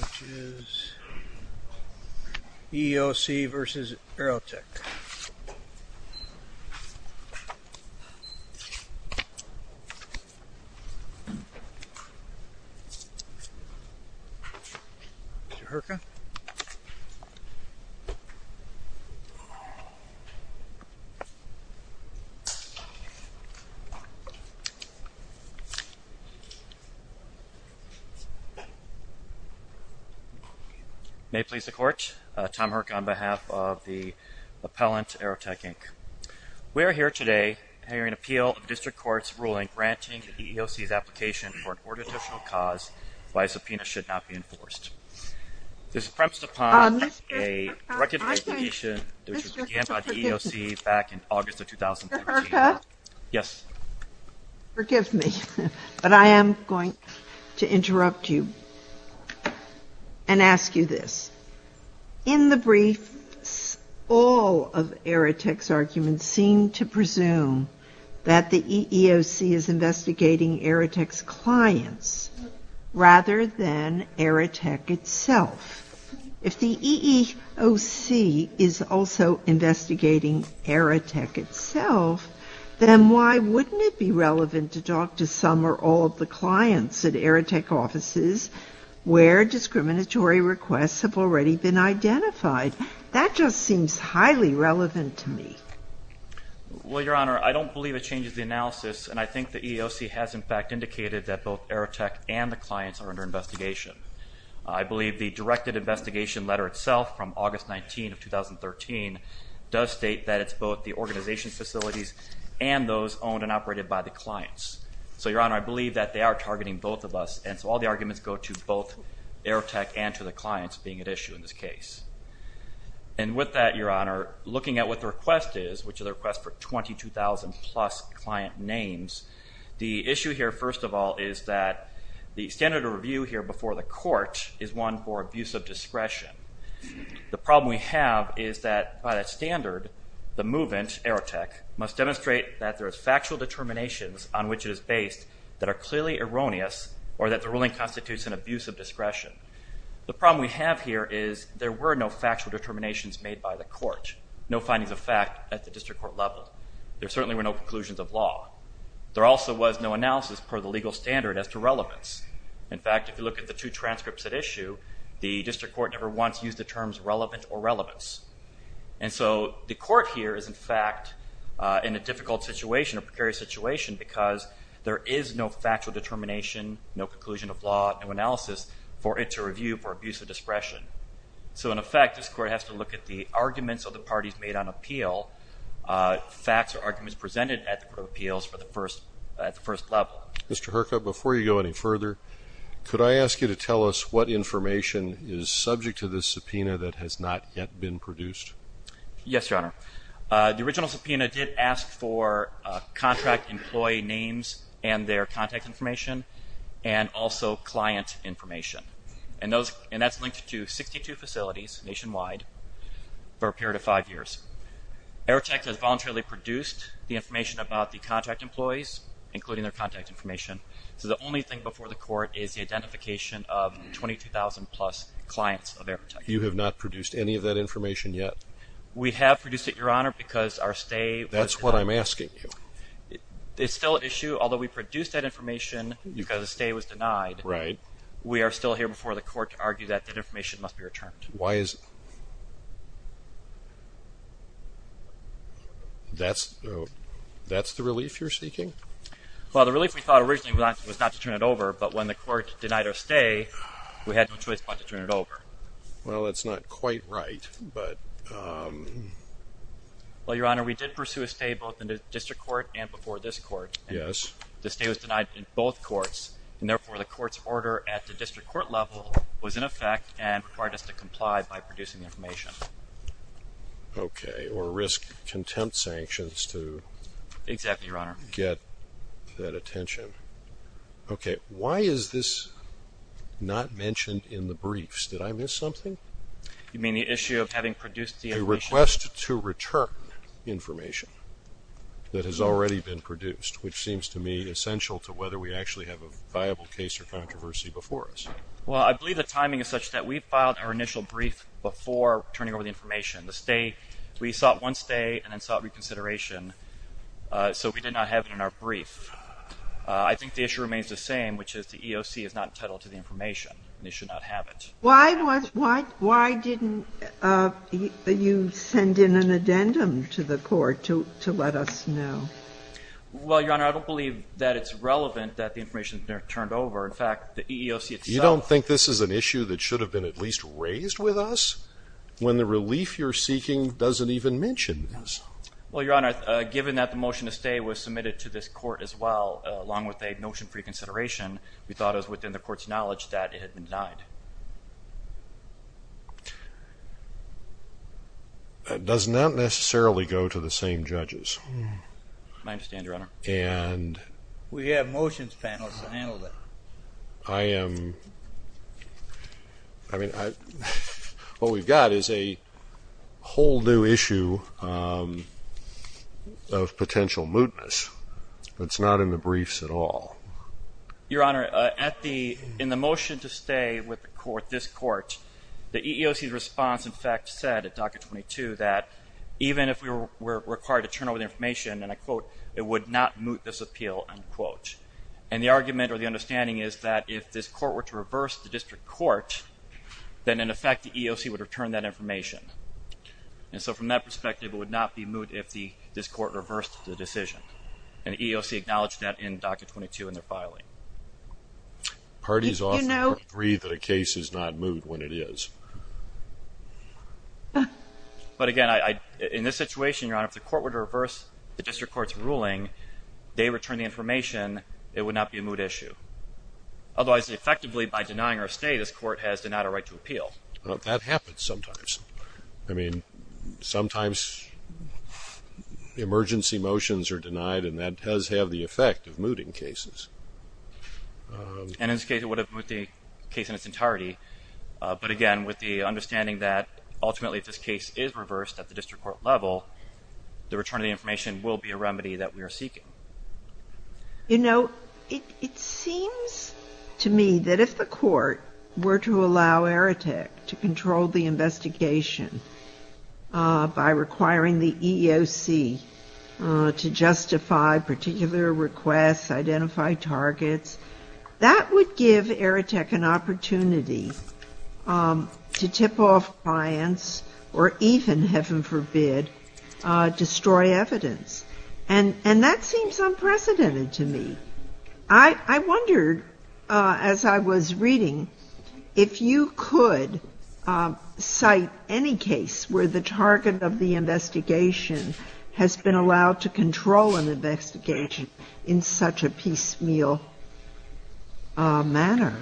Which is EEOC v. Aerotek. Mr. Herka May it please the Court, Tom Herka on behalf of the Appellant, Aerotek, Inc. We are here today hearing an appeal of the District Court's ruling granting the EEOC's application for an ordinational cause why a subpoena should not be enforced. This is premised upon a recommendation which was began by the EEOC back in August of 2013. Mr. Herka Yes Forgive me, but I am going to interrupt you and ask you this. In the brief, all of Aerotek's arguments seem to presume that the EEOC is investigating Aerotek's clients rather than Aerotek itself. If the EEOC is also investigating Aerotek itself, then why wouldn't it be relevant to talk to some or all of the clients at Aerotek offices where discriminatory requests have already been identified? That just seems highly relevant to me. Mr. Herka Well, Your Honor, I don't believe it changes the analysis, and I think the EEOC has in fact indicated that both Aerotek and the clients are under investigation. I believe the directed investigation letter itself from August 19 of 2013 does state that it's both the organization's facilities and those owned and operated by the clients. So, Your Honor, I believe that they are targeting both of us, and so all the arguments go to both Aerotek and to the clients being at issue in this case. And with that, Your Honor, looking at what the request is, which is a request for 22,000-plus client names, the issue here, first of all, is that the standard of review here before the court is one for abuse of discretion. The problem we have is that by that standard, the movement, Aerotek, must demonstrate that there is factual determinations on which it is based that are clearly erroneous or that the ruling constitutes an abuse of discretion. The problem we have here is there were no factual determinations made by the court, no findings of fact at the district court level. There certainly were no conclusions of law. There also was no analysis per the legal standard as to relevance. In fact, if you look at the two transcripts at issue, the district court never once used the terms relevant or relevance. And so the court here is, in fact, in a difficult situation, a precarious situation, because there is no factual determination, no conclusion of law, no analysis for it to review for abuse of discretion. So, in effect, this court has to look at the arguments of the parties made on appeal, facts or arguments presented at the court of appeals at the first level. Mr. Herka, before you go any further, could I ask you to tell us what information is subject to this subpoena that has not yet been produced? Yes, Your Honor. The original subpoena did ask for contract employee names and their contact information and also client information. And that's linked to 62 facilities nationwide for a period of five years. Airtek has voluntarily produced the information about the contract employees, including their contact information. So the only thing before the court is the identification of 22,000-plus clients of Airtek. You have not produced any of that information yet? We have produced it, Your Honor, because our stay was denied. That's what I'm asking you. It's still at issue, although we produced that information because the stay was denied. Right. We are still here before the court to argue that that information must be returned. Why is it? That's the relief you're seeking? Well, the relief we thought originally was not to turn it over, but when the court denied our stay, we had no choice but to turn it over. Well, that's not quite right, but... Well, Your Honor, we did pursue a stay both in the district court and before this court. Yes. The stay was denied in both courts, and therefore the court's order at the district court level was in effect and required us to comply by producing the information. Okay. Or risk contempt sanctions to... Exactly, Your Honor. ...get that attention. Okay. Why is this not mentioned in the briefs? Did I miss something? You mean the issue of having produced the information? A request to return information that has already been produced, which seems to me essential to whether we actually have a viable case or controversy before us. Well, I believe the timing is such that we filed our initial brief before turning over the information. The stay, we sought one stay and then sought reconsideration, so we did not have it in our brief. I think the issue remains the same, which is the EOC is not entitled to the information, and they should not have it. Why didn't you send in an addendum to the court to let us know? Well, Your Honor, I don't believe that it's relevant that the information is turned over. In fact, the EEOC itself... You don't think this is an issue that should have been at least raised with us when the relief you're seeking doesn't even mention this? Well, Your Honor, given that the motion to stay was submitted to this court as well, along with a notion for reconsideration, we thought it was within the court's knowledge that it had been denied. That does not necessarily go to the same judges. I understand, Your Honor. And... We have motions panels to handle that. I am, I mean, what we've got is a whole new issue of potential mootness that's not in the briefs at all. Your Honor, at the, in the motion to stay with the court, this court, the EEOC's response, in fact, said at docket 22, that even if we were required to turn over the information, and I quote, it would not moot this appeal, unquote. And the argument or the understanding is that if this court were to reverse the district court, then in effect the EEOC would return that information. And so from that perspective, it would not be moot if this court reversed the decision. And the EEOC acknowledged that in docket 22 in their filing. Parties often agree that a case is not moot when it is. But again, in this situation, Your Honor, if the court were to reverse the district court's ruling, they return the information, it would not be a moot issue. Otherwise, effectively, by denying our stay, this court has denied our right to appeal. Well, that happens sometimes. I mean, sometimes emergency motions are denied, and that does have the effect of mooting cases. And in this case, it would have moot the case in its entirety. But again, with the understanding that ultimately if this case is reversed at the district court level, the return of the information will be a remedy that we are seeking. You know, it seems to me that if the court were to allow AEROTEC to control the investigation by requiring the EEOC to justify particular requests, identify targets, that would give AEROTEC an opportunity to tip off clients or even, heaven forbid, destroy evidence. And that seems unprecedented to me. I wondered, as I was reading, if you could cite any case where the target of the investigation has been allowed to control an investigation in such a piecemeal manner.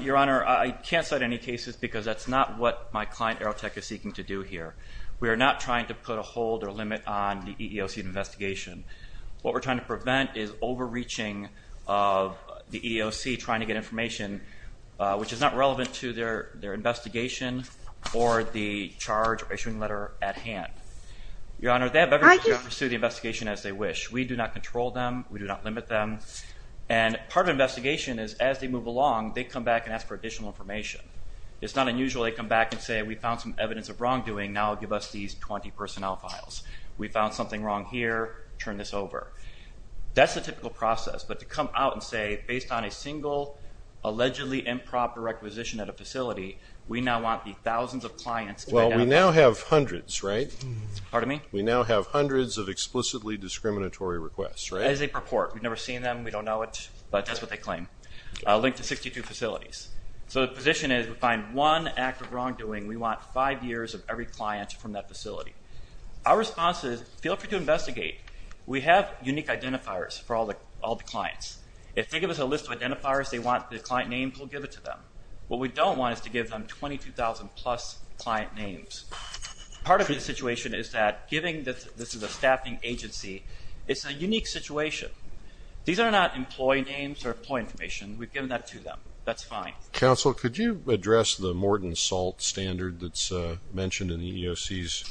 Your Honor, I can't cite any cases because that's not what my client AEROTEC is seeking to do here. We are not trying to put a hold or limit on the EEOC investigation. What we're trying to prevent is overreaching of the EEOC trying to get information, which is not relevant to their investigation or the charge or issuing letter at hand. Your Honor, they have every right to pursue the investigation as they wish. We do not control them. We do not limit them. And part of an investigation is, as they move along, they come back and ask for additional information. It's not unusual they come back and say, we found some evidence of wrongdoing. Now give us these 20 personnel files. We found something wrong here. Turn this over. That's the typical process. But to come out and say, based on a single allegedly improper requisition at a facility, we now want the thousands of clients to identify. Well, we now have hundreds, right? Pardon me? We now have hundreds of explicitly discriminatory requests, right? As they purport. We've never seen them. We don't know it. But that's what they claim. Linked to 62 facilities. So the position is, we find one act of wrongdoing. We want five years of every client from that facility. Our response is, feel free to investigate. We have unique identifiers for all the clients. If they give us a list of identifiers they want the client names, we'll give it to them. What we don't want is to give them 22,000-plus client names. Part of the situation is that giving this to the staffing agency, it's a unique situation. These are not employee names or employee information. We've given that to them. That's fine. Counsel, could you address the Morton Salt standard that's mentioned in the EEOC's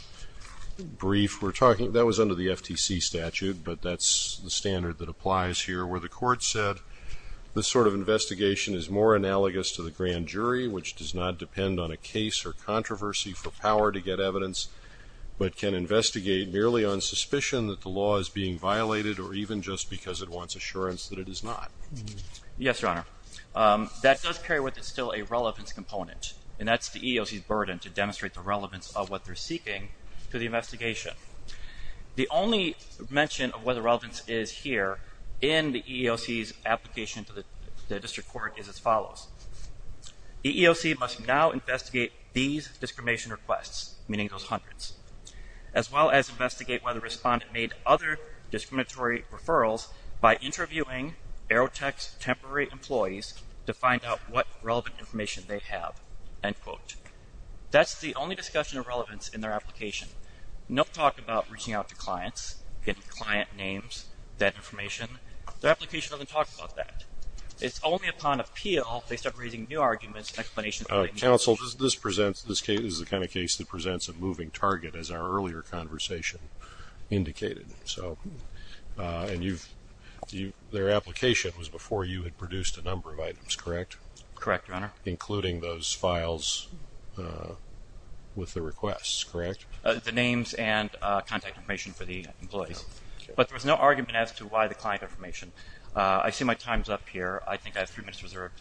brief? That was under the FTC statute, but that's the standard that applies here, where the court said this sort of investigation is more analogous to the grand jury, which does not depend on a case or controversy for power to get evidence, but can investigate merely on suspicion that the law is being violated or even just because it wants assurance that it is not. Yes, Your Honor. That does carry with it still a relevance component, and that's the EEOC's burden to demonstrate the relevance of what they're seeking to the investigation. The only mention of what the relevance is here in the EEOC's application to the district court is as follows. The EEOC must now investigate these discrimination requests, meaning those hundreds, as well as investigate whether a respondent made other discriminatory referrals by interviewing Aerotech's temporary employees to find out what relevant information they have, end quote. That's the only discussion of relevance in their application. No talk about reaching out to clients, getting client names, that information. Their application doesn't talk about that. It's only upon appeal they start raising new arguments and explanations. Counsel, this is the kind of case that presents a moving target, as our earlier conversation indicated. And their application was before you had produced a number of items, correct? Correct, Your Honor. Including those files with the requests, correct? The names and contact information for the employees. But there was no argument as to why the client information. I see my time's up here. I think I have three minutes reserved.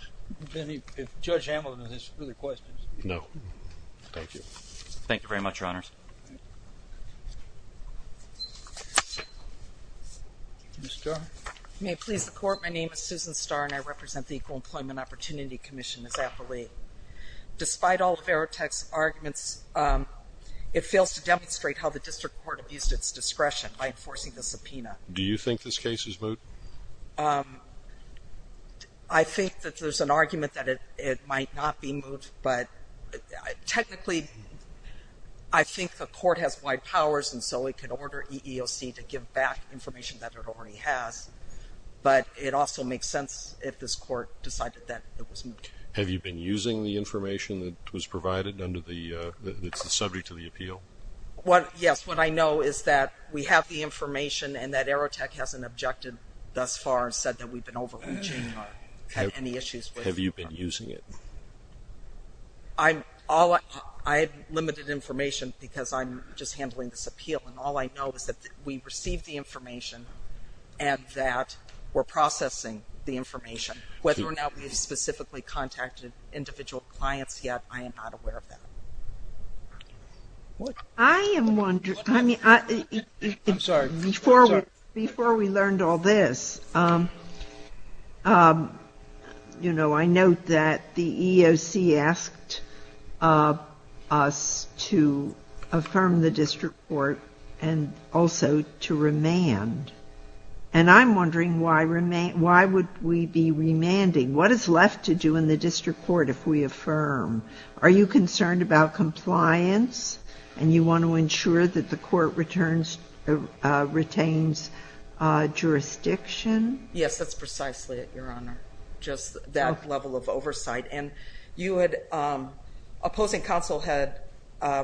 If Judge Hamilton has any questions. No. Thank you. Thank you very much, Your Honors. Ms. Starr? May it please the Court, my name is Susan Starr, and I represent the Equal Employment Opportunity Commission, as appellee. Despite all of Aerotech's arguments, it fails to demonstrate how the district court abused its discretion by enforcing the subpoena. Do you think this case is moot? I think that there's an argument that it might not be moot. But technically, I think the court has wide powers, and so it could order EEOC to give back information that it already has. But it also makes sense if this court decided that it was moot. Have you been using the information that was provided that's subject to the appeal? Yes, what I know is that we have the information and that Aerotech hasn't objected thus far and said that we've been overreaching or had any issues with it. Have you been using it? I have limited information because I'm just handling this appeal, and all I know is that we received the information and that we're processing the information. Whether or not we have specifically contacted individual clients yet, I am not aware of that. I am wondering, I mean, before we learned all this, you know, I note that the EEOC asked us to affirm the district court and also to remand. And I'm wondering why would we be remanding? What is left to do in the district court if we affirm? Are you concerned about compliance and you want to ensure that the court retains jurisdiction? Yes, that's precisely it, Your Honor, just that level of oversight. And opposing counsel had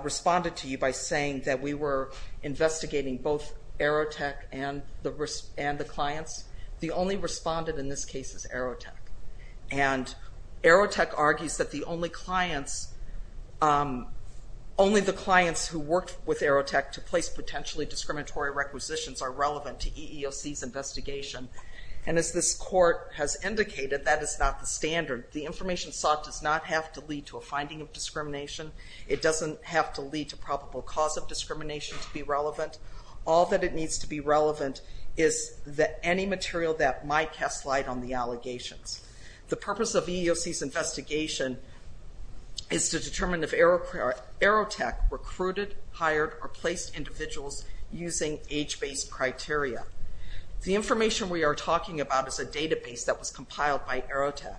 responded to you by saying that we were investigating both Aerotech and the clients. The only respondent in this case is Aerotech. And Aerotech argues that the only clients, only the clients who worked with Aerotech to place potentially discriminatory requisitions are relevant to EEOC's investigation. And as this court has indicated, that is not the standard. The information sought does not have to lead to a finding of discrimination. It doesn't have to lead to probable cause of discrimination to be relevant. All that it needs to be relevant is any material that might cast light on the allegations. The purpose of EEOC's investigation is to determine if Aerotech recruited, hired, or placed individuals using age-based criteria. The information we are talking about is a database that was compiled by Aerotech.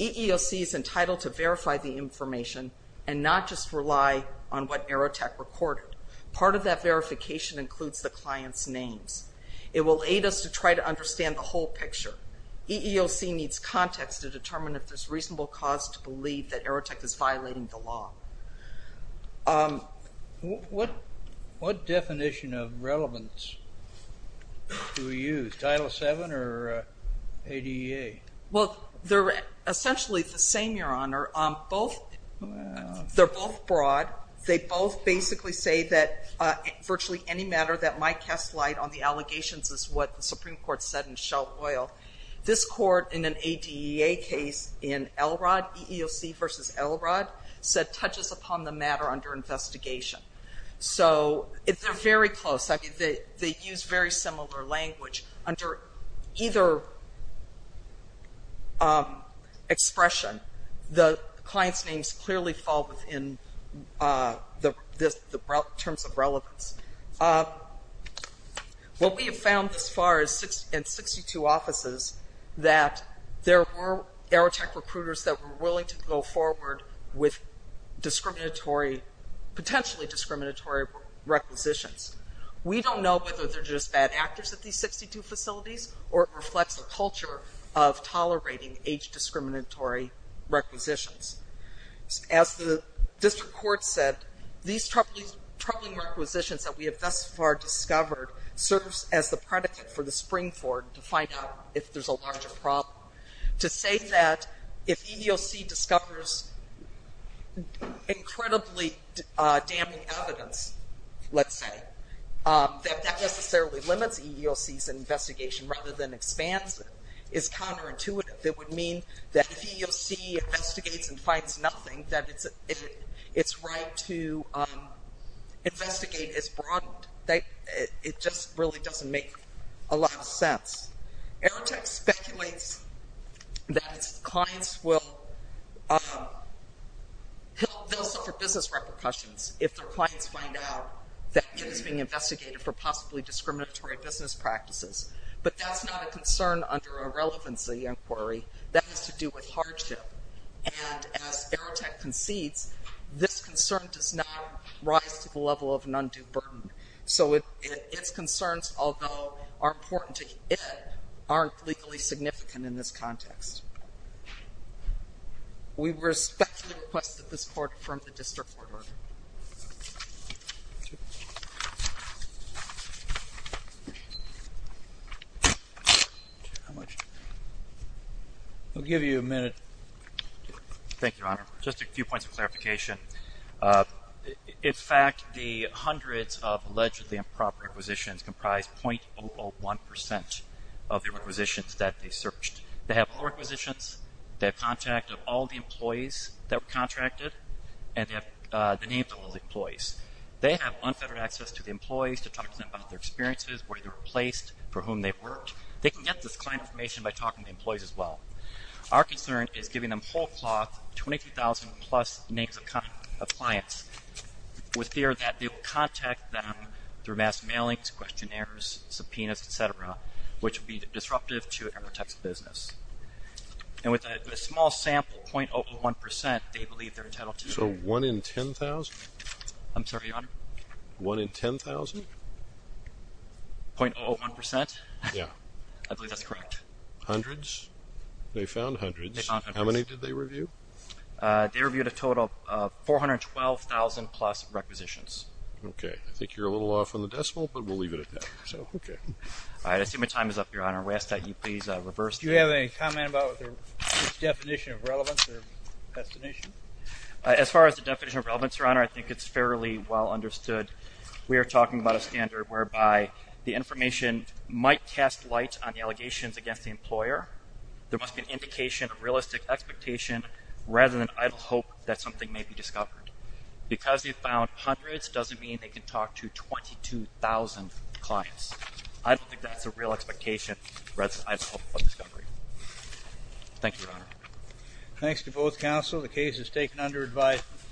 EEOC is entitled to verify the information and not just rely on what Aerotech recorded. Part of that verification includes the client's names. It will aid us to try to understand the whole picture. EEOC needs context to determine if there's reasonable cause to believe that Aerotech is violating the law. What definition of relevance do we use? Title VII or ADA? Well, they're essentially the same, Your Honor. They're both broad. They both basically say that virtually any matter that might cast light on the allegations is what the Supreme Court said in Shell Oil. This Court in an ADEA case in Elrod, EEOC versus Elrod, said touches upon the matter under investigation. So they're very close. They use very similar language. Under either expression, the client's names clearly fall within the terms of relevance. What we have found thus far in 62 offices, that there were Aerotech recruiters that were willing to go forward with discriminatory, potentially discriminatory requisitions. We don't know whether they're just bad actors at these 62 facilities or it reflects a culture of tolerating age-discriminatory requisitions. As the district court said, these troubling requisitions that we have thus far discovered serves as the predicate for the spring forward to find out if there's a larger problem. To say that if EEOC discovers incredibly damning evidence, let's say, that that necessarily limits EEOC's investigation rather than expands it is counterintuitive. It would mean that if EEOC investigates and finds nothing, that its right to investigate is broadened. It just really doesn't make a lot of sense. Aerotech speculates that its clients will suffer business repercussions if their clients find out that it is being investigated for possibly discriminatory business practices. But that's not a concern under a relevancy inquiry. That has to do with hardship. And as Aerotech concedes, this concern does not rise to the level of an undue burden. So its concerns, although are important to it, aren't legally significant in this context. We respectfully request that this Court confirm the district court order. I'll give you a minute. Thank you, Your Honor. Just a few points of clarification. In fact, the hundreds of allegedly improper acquisitions comprise .001% of the acquisitions that they searched. They have poor acquisitions. They have contact of all the employees that were contracted. And they have the names of all the employees. They have unfettered access to the employees to talk to them about their experiences, where they were placed, for whom they worked. They can get this client information by talking to the employees as well. Our concern is giving them whole cloth, 22,000-plus names of clients, with fear that they will contact them through mass mailings, questionnaires, subpoenas, et cetera, which would be disruptive to Aerotech's business. And with a small sample .001%, they believe they're entitled to. So one in 10,000? I'm sorry, Your Honor? One in 10,000? .001%? Yeah. I believe that's correct. Hundreds? They found hundreds. They found hundreds. How many did they review? They reviewed a total of 412,000-plus requisitions. Okay. I think you're a little off on the decimal, but we'll leave it at that. So, okay. All right. I see my time is up, Your Honor. May I ask that you please reverse that? Do you have any comment about the definition of relevance or destination? As far as the definition of relevance, Your Honor, I think it's fairly well understood. We are talking about a standard whereby the information might cast light on the allegations against the employer. There must be an indication of realistic expectation rather than idle hope that something may be discovered. Because they found hundreds doesn't mean they can talk to 22,000 clients. I don't think that's a real expectation rather than idle hope for discovery. Thank you, Your Honor. Thanks to both counsel. The case is taken under advisement.